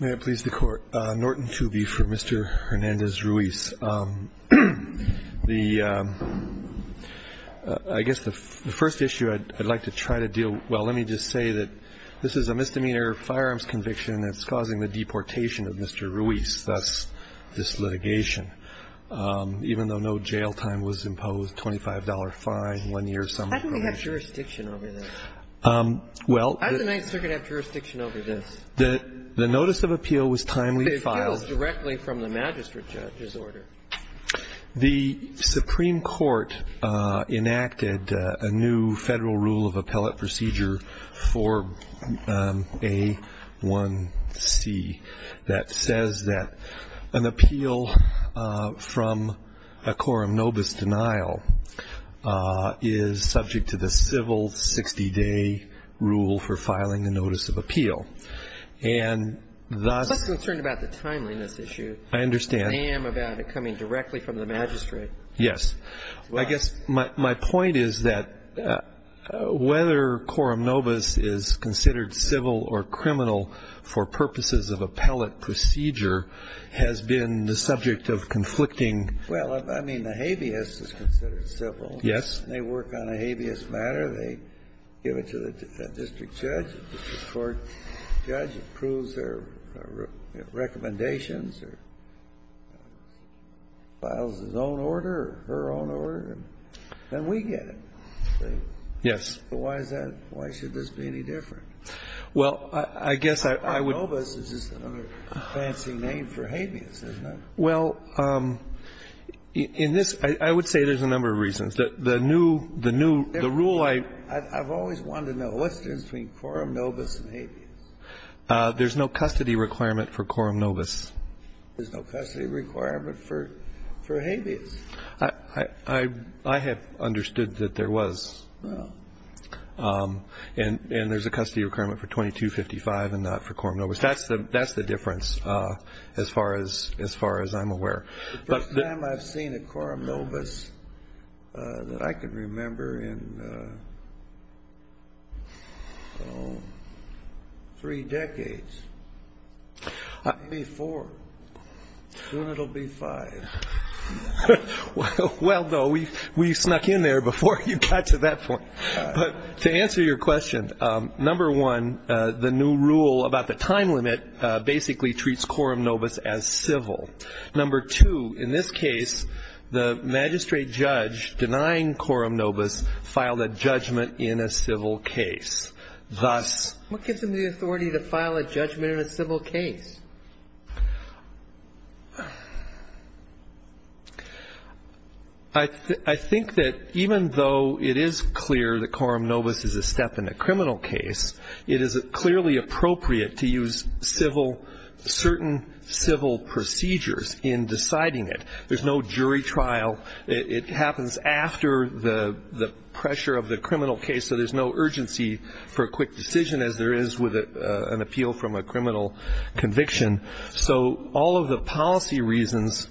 May it please the Court. Norton Tooby for Mr. Hernandez-Ruiz. I guess the first issue I'd like to try to deal with, well, let me just say that this is a misdemeanor firearms conviction that's causing the deportation of Mr. Ruiz, thus this litigation. Even though no jail time was imposed, $25 fine, one year or so. How do we have jurisdiction over this? How does the Ninth Circuit have jurisdiction over this? The notice of appeal was timely filed. It was directly from the magistrate judge's order. The Supreme Court enacted a new federal rule of appellate procedure for A1C that says that an appeal from a quorum nobis denial is subject to the civil 60-day rule for filing a notice of appeal. And thus I'm just concerned about the timeliness issue. I understand. I am about it coming directly from the magistrate. Yes. I guess my point is that whether quorum nobis is considered civil or criminal for purposes of appellate procedure has been the subject of conflicting Well, I mean, the habeas is considered civil. Yes. And they work on a habeas matter. They give it to the district judge. The district court judge approves their recommendations or files his own order or her own order, and we get it. Yes. Why is that? Why should this be any different? Well, I guess I would Quorum nobis is just another fancy name for habeas, isn't it? Well, in this, I would say there's a number of reasons. The new rule I I've always wanted to know. What's the difference between quorum nobis and habeas? There's no custody requirement for quorum nobis. There's no custody requirement for habeas? I have understood that there was. Oh. And there's a custody requirement for 2255 and not for quorum nobis. That's the difference as far as I'm aware. The first time I've seen a quorum nobis that I can remember in, oh, three decades. It'll be four. Soon it'll be five. Well, no, we snuck in there before you got to that point. To answer your question, number one, the new rule about the time limit basically treats quorum nobis as civil. Number two, in this case, the magistrate judge denying quorum nobis filed a judgment in a civil case. Thus What gives them the authority to file a judgment in a civil case? I think that even though it is clear that quorum nobis is a step in a criminal case, it is clearly appropriate to use civil, certain civil procedures in deciding it. There's no jury trial. It happens after the pressure of the criminal case, so there's no urgency for a quick decision as there is with an appeal from a criminal conviction. So all of the policy reasons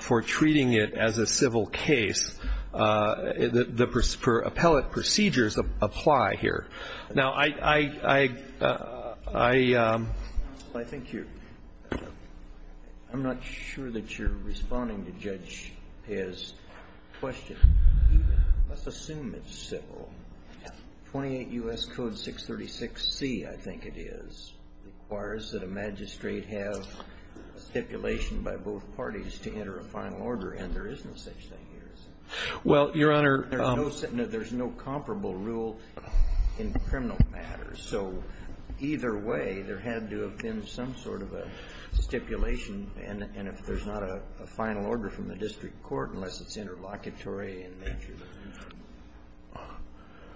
for treating it as a civil case, the appellate procedures apply here. Now, I think you're, I'm not sure that you're responding to Judge Pez's question. Let's assume it's civil. Well, 28 U.S. Code 636C, I think it is, requires that a magistrate have stipulation by both parties to enter a final order, and there isn't such thing here, is there? Well, Your Honor. There's no comparable rule in criminal matters. So either way, there had to have been some sort of a stipulation,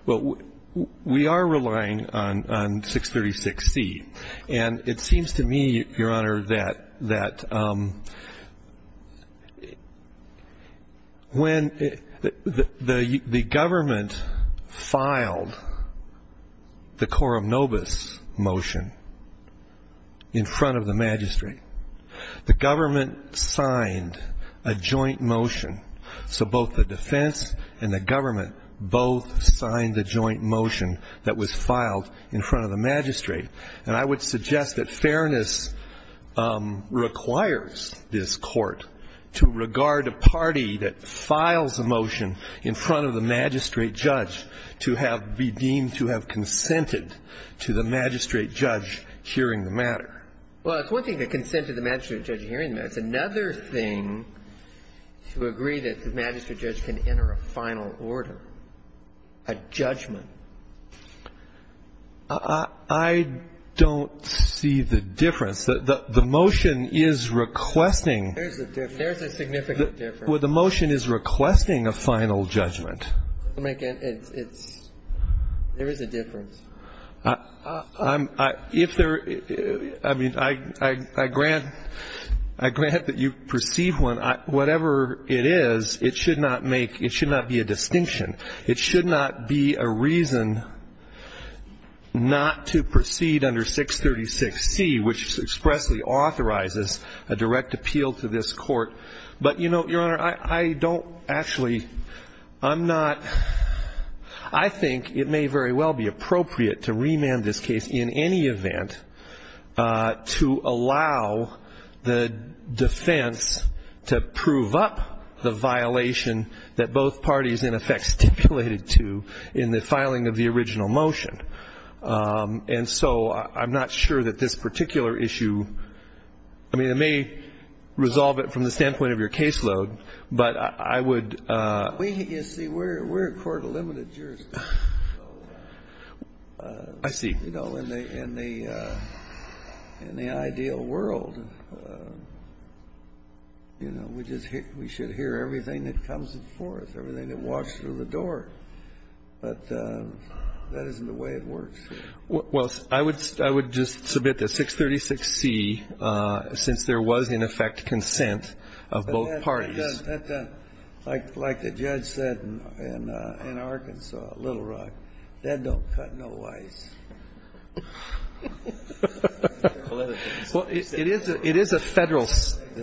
Well, we are relying on 636C, and it seems to me, Your Honor, that when the government filed the quorum nobis motion in front of the magistrate, the government signed a joint motion. So both the defense and the government both signed the joint motion that was filed in front of the magistrate. And I would suggest that fairness requires this Court to regard a party that files a motion in front of the magistrate judge to have be deemed to have consented to the magistrate judge hearing the matter. Well, it's one thing to consent to the magistrate judge hearing the matter. It's another thing to agree that the magistrate judge can enter a final order, a judgment. I don't see the difference. The motion is requesting. There's a difference. There's a significant difference. Well, the motion is requesting a final judgment. There is a difference. If there – I mean, I grant that you perceive one. Whatever it is, it should not make – it should not be a distinction. It should not be a reason not to proceed under 636C, which expressly authorizes a direct appeal to this Court. But, you know, Your Honor, I don't actually – I'm not – I think it may very well be appropriate to remand this case in any event to allow the defense to prove up the violation that both parties in effect stipulated to in the filing of the original motion. And so I'm not sure that this particular issue – I mean, I may resolve it from the standpoint of your caseload, but I would – You see, we're a court of limited jurisdiction. I see. You know, in the ideal world, you know, we should hear everything that comes before us, everything that walks through the door. But that isn't the way it works. Well, I would just submit that 636C, since there was, in effect, consent of both parties. Like the judge said in Arkansas, Little Rock, that don't cut no ice. Well, it is a Federal statute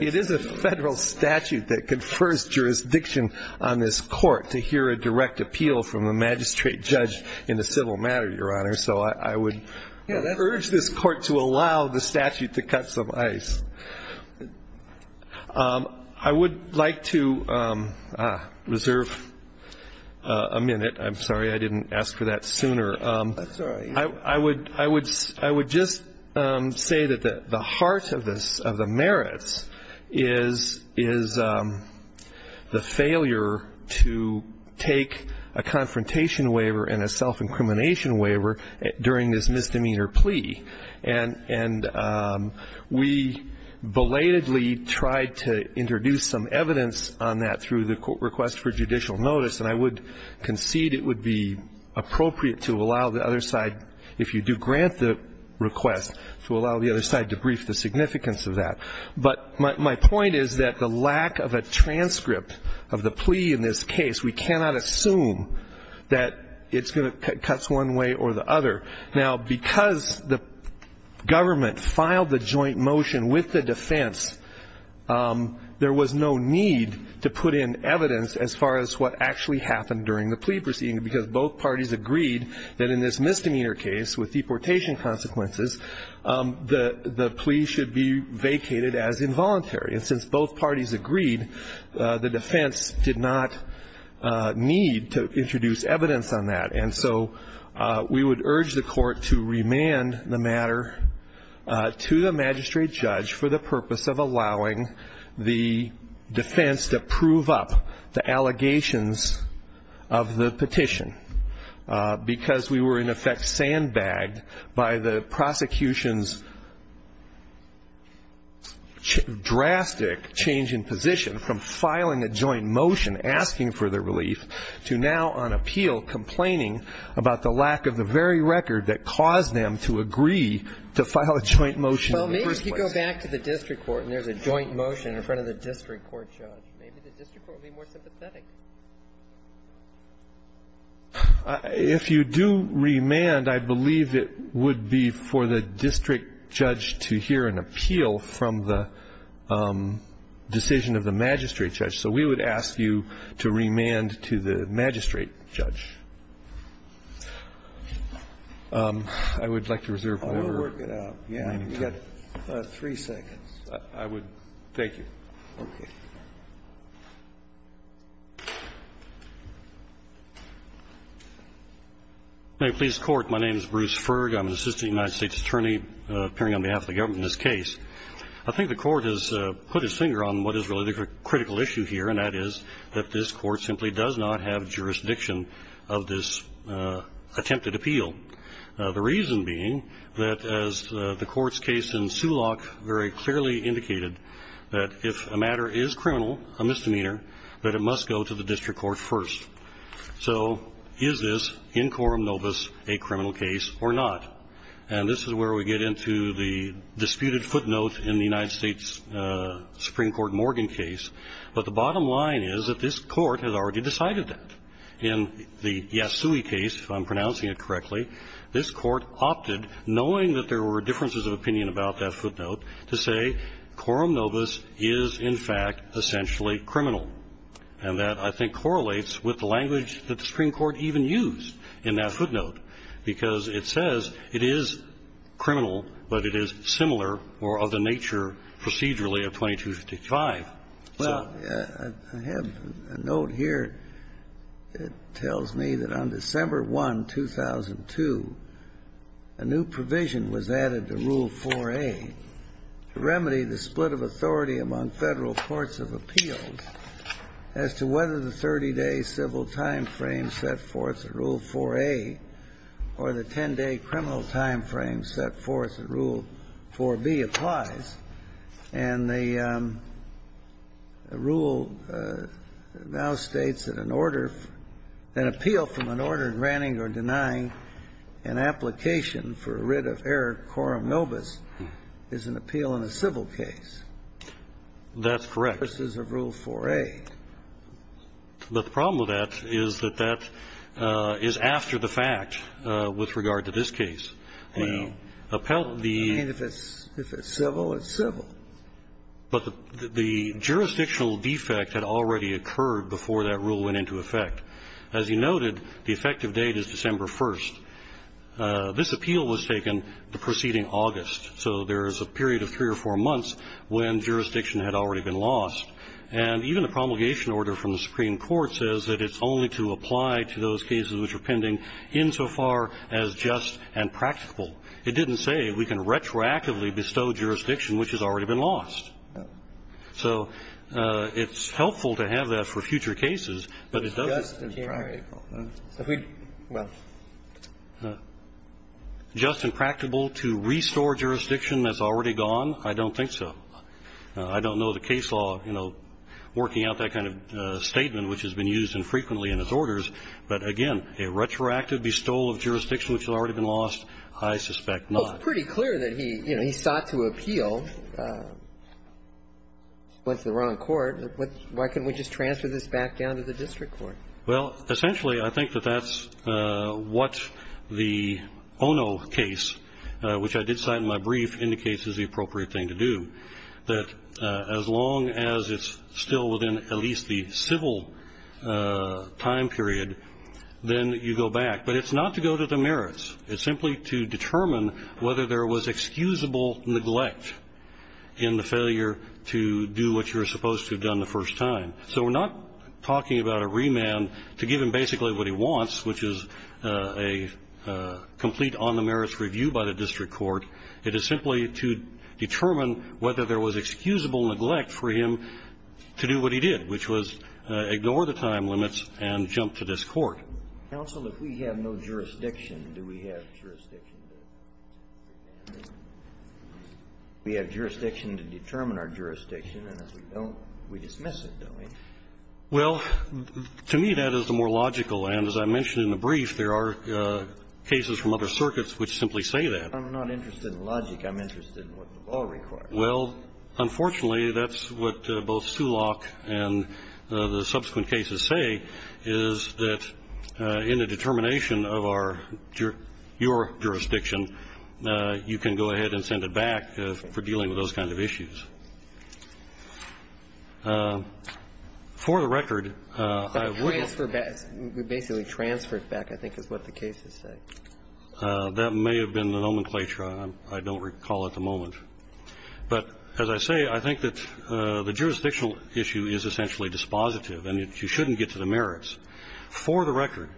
that confers jurisdiction on this Court to hear a direct appeal. It's a direct appeal from a magistrate judge in a civil matter, Your Honor. So I would urge this Court to allow the statute to cut some ice. I would like to reserve a minute. I'm sorry I didn't ask for that sooner. That's all right. I would just say that the heart of the merits is the failure to take a confrontation waiver and a self-incrimination waiver during this misdemeanor plea. And we belatedly tried to introduce some evidence on that through the request for judicial notice, and I would concede it would be appropriate to allow the other side, if you do grant the request, to allow the other side to brief the significance of that. But my point is that the lack of a transcript of the plea in this case, we cannot assume that it cuts one way or the other. Now, because the government filed the joint motion with the defense, there was no need to put in evidence as far as what actually happened during the plea proceeding, because both parties agreed that in this misdemeanor case, with deportation consequences, the plea should be vacated as involuntary. And since both parties agreed, the defense did not need to introduce evidence on that. And so we would urge the court to remand the matter to the magistrate judge for the purpose of allowing the defense to prove up the allegations of the petition, because we were, in effect, sandbagged by the prosecution's drastic change in position, from filing a joint motion asking for the relief to now on appeal complaining about the lack of the very record that caused them to agree to file a joint motion in the first place. Well, maybe if you go back to the district court and there's a joint motion in front of the district court judge, maybe the district court would be more sympathetic. If you do remand, I believe it would be for the district judge to hear an appeal from the decision of the magistrate judge. So we would ask you to remand to the magistrate judge. I would like to reserve whatever time. I'll work it out. You've got three seconds. I would. Thank you. Okay. May it please the court. My name is Bruce Ferg. I'm an assistant United States attorney appearing on behalf of the government in this case. I think the court has put its finger on what is really the critical issue here, and that is that this court simply does not have jurisdiction of this attempted appeal, the reason being that, as the court's case in Sulok very clearly indicated, that if a matter is criminal, a misdemeanor, that it must go to the district court first. So is this, in quorum nobis, a criminal case or not? And this is where we get into the disputed footnote in the United States Supreme Court Morgan case. But the bottom line is that this court has already decided that. In the Yasui case, if I'm pronouncing it correctly, this court opted, knowing that there were differences of opinion about that footnote, to say quorum nobis is, in fact, essentially criminal. And that, I think, correlates with the language that the Supreme Court even used in that footnote, because it says it is criminal, but it is similar or of the nature procedurally of 2255. Well, I have a note here. It tells me that on December 1, 2002, a new provision was added to Rule 4A to remedy the split of authority among Federal courts of appeals as to whether the 30-day civil time frame set forth in Rule 4A or the 10-day criminal time frame set forth in Rule 4B applies. And the rule now states that an order, an appeal from an order granting or denying an application for a writ of error quorum nobis is an appeal in a civil case. That's correct. Versus a Rule 4A. But the problem with that is that that is after the fact with regard to this case. Well, I mean, if it's civil, it's civil. But the jurisdictional defect had already occurred before that rule went into effect. As you noted, the effective date is December 1. This appeal was taken the preceding August, so there is a period of three or four months when jurisdiction had already been lost. And even the promulgation order from the Supreme Court says that it's only to apply to those cases which are pending insofar as just and practical. It didn't say we can retroactively bestow jurisdiction which has already been lost. So it's helpful to have that for future cases, but it doesn't. Just and practical. Well. Just and practical to restore jurisdiction that's already gone? I don't think so. I don't know the case law, you know, working out that kind of statement which has been used infrequently in its orders. But, again, a retroactive bestowal of jurisdiction which has already been lost, I suspect not. Well, it's pretty clear that he, you know, he sought to appeal, went to the wrong court. Why can't we just transfer this back down to the district court? Well, essentially, I think that that's what the Ono case, which I did cite in my brief, indicates is the appropriate thing to do, that as long as it's still within at least the civil time period, then you go back. But it's not to go to the merits. It's simply to determine whether there was excusable neglect in the failure to do what you're supposed to have done the first time. So we're not talking about a remand to give him basically what he wants, which is a complete on the merits review by the district court. It is simply to determine whether there was excusable neglect for him to do what he did, which was ignore the time limits and jump to this court. Counsel, if we have no jurisdiction, do we have jurisdiction? We have jurisdiction to determine our jurisdiction, and if we don't, we dismiss it, don't we? Well, to me, that is the more logical. And as I mentioned in the brief, there are cases from other circuits which simply say that. I'm not interested in logic. I'm interested in what the law requires. Well, unfortunately, that's what both Sulock and the subsequent cases say, is that in the determination of your jurisdiction, you can go ahead and send it back for dealing with those kinds of issues. For the record, I wouldn't. Transfer back. We basically transfer it back, I think, is what the cases say. That may have been the nomenclature. I don't recall at the moment. But as I say, I think that the jurisdictional issue is essentially dispositive, and you shouldn't get to the merits. For the record,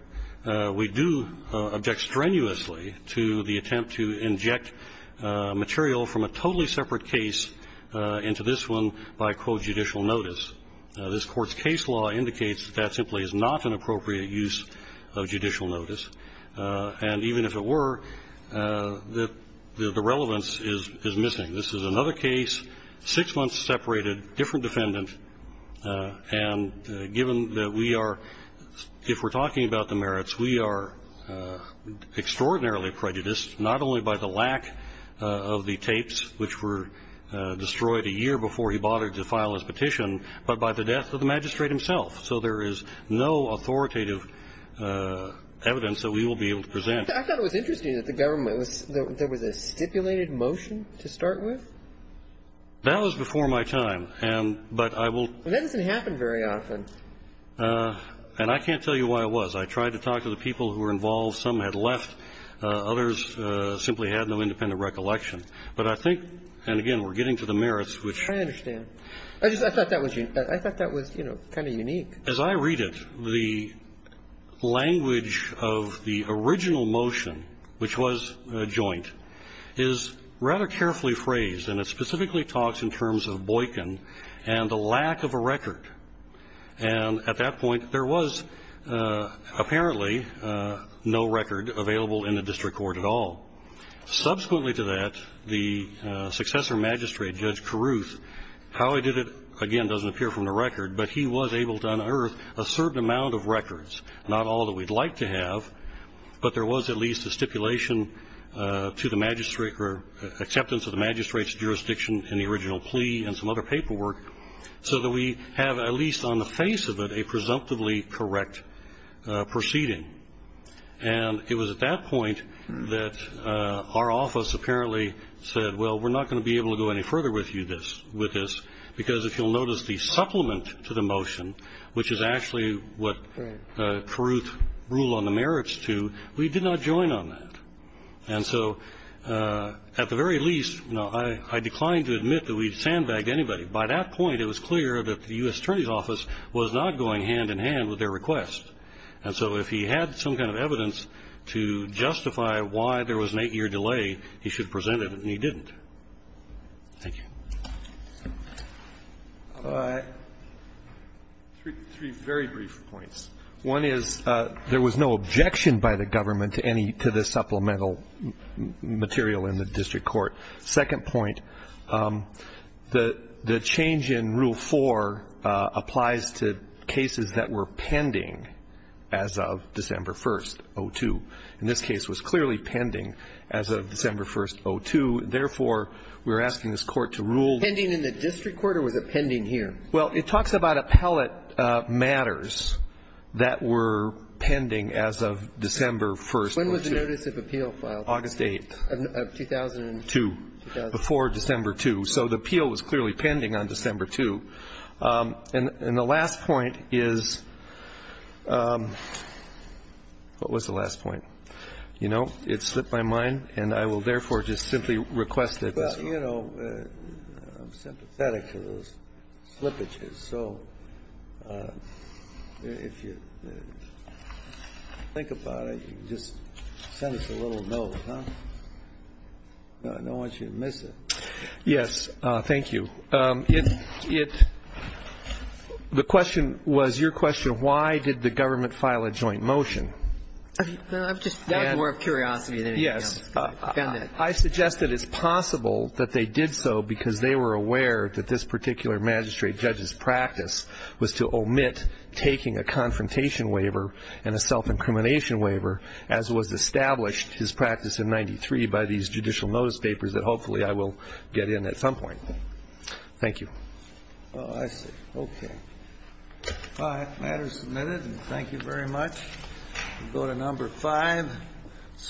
we do object strenuously to the attempt to inject material from a totally separate case into this one by, quote, judicial notice. This Court's case law indicates that that simply is not an appropriate use of judicial notice, and even if it were, the relevance is missing. This is another case, six months separated, different defendant, and given that we are, if we're talking about the merits, we are extraordinarily prejudiced, not only by the lack of the tapes, which were destroyed a year before he bothered to file his petition, but by the death of the magistrate himself. So there is no authoritative evidence that we will be able to present. I thought it was interesting that there was a stipulated motion to start with. That was before my time. And that doesn't happen very often. And I can't tell you why it was. I tried to talk to the people who were involved. Some had left. Others simply had no independent recollection. But I think, and again, we're getting to the merits, which ---- I understand. I just thought that was, you know, kind of unique. As I read it, the language of the original motion, which was a joint, is rather carefully phrased, and it specifically talks in terms of Boykin and the lack of a record. And at that point, there was apparently no record available in the district court at all. Subsequently to that, the successor magistrate, Judge Carruth, how he did it, again, doesn't appear from the record, but he was able to unearth a certain amount of records, not all that we'd like to have, but there was at least a stipulation to the magistrate or acceptance of the magistrate's jurisdiction in the original plea and some other paperwork so that we have at least on the face of it a presumptively correct proceeding. And it was at that point that our office apparently said, well, we're not going to be able to go any further with you with this, because if you'll notice the supplement to the motion, which is actually what Carruth ruled on the merits to, we did not join on that. And so at the very least, you know, I declined to admit that we'd sandbagged anybody. By that point, it was clear that the U.S. Attorney's Office was not going hand in hand with their request. And so if he had some kind of evidence to justify why there was an eight-year delay, he should present it, and he didn't. Thank you. Three very brief points. One is there was no objection by the government to this supplemental material in the district court. Second point, the change in Rule 4 applies to cases that were pending as of December 1st, 02. And this case was clearly pending as of December 1st, 02. Therefore, we're asking this Court to rule. Pending in the district court, or was it pending here? Well, it talks about appellate matters that were pending as of December 1st, 02. When was the notice of appeal filed? August 8th. 2002. Before December 2. So the appeal was clearly pending on December 2. And the last point is what was the last point? You know, it slipped my mind, and I will therefore just simply request that this Court rule. Well, you know, I'm sympathetic to those slippages. So if you think about it, just send us a little note. I don't want you to miss it. Yes. Thank you. The question was, your question, why did the government file a joint motion? I'm just more of a curiosity than anything else. Yes. I suggest that it's possible that they did so because they were aware that this particular magistrate judge's practice was to omit taking a confrontation waiver and a self-incrimination waiver, as was established, his practice in 93, by these judicial notice papers that hopefully I will get in at some point. Thank you. Oh, I see. Okay. Well, that matter is submitted, and thank you very much. We'll go to number five.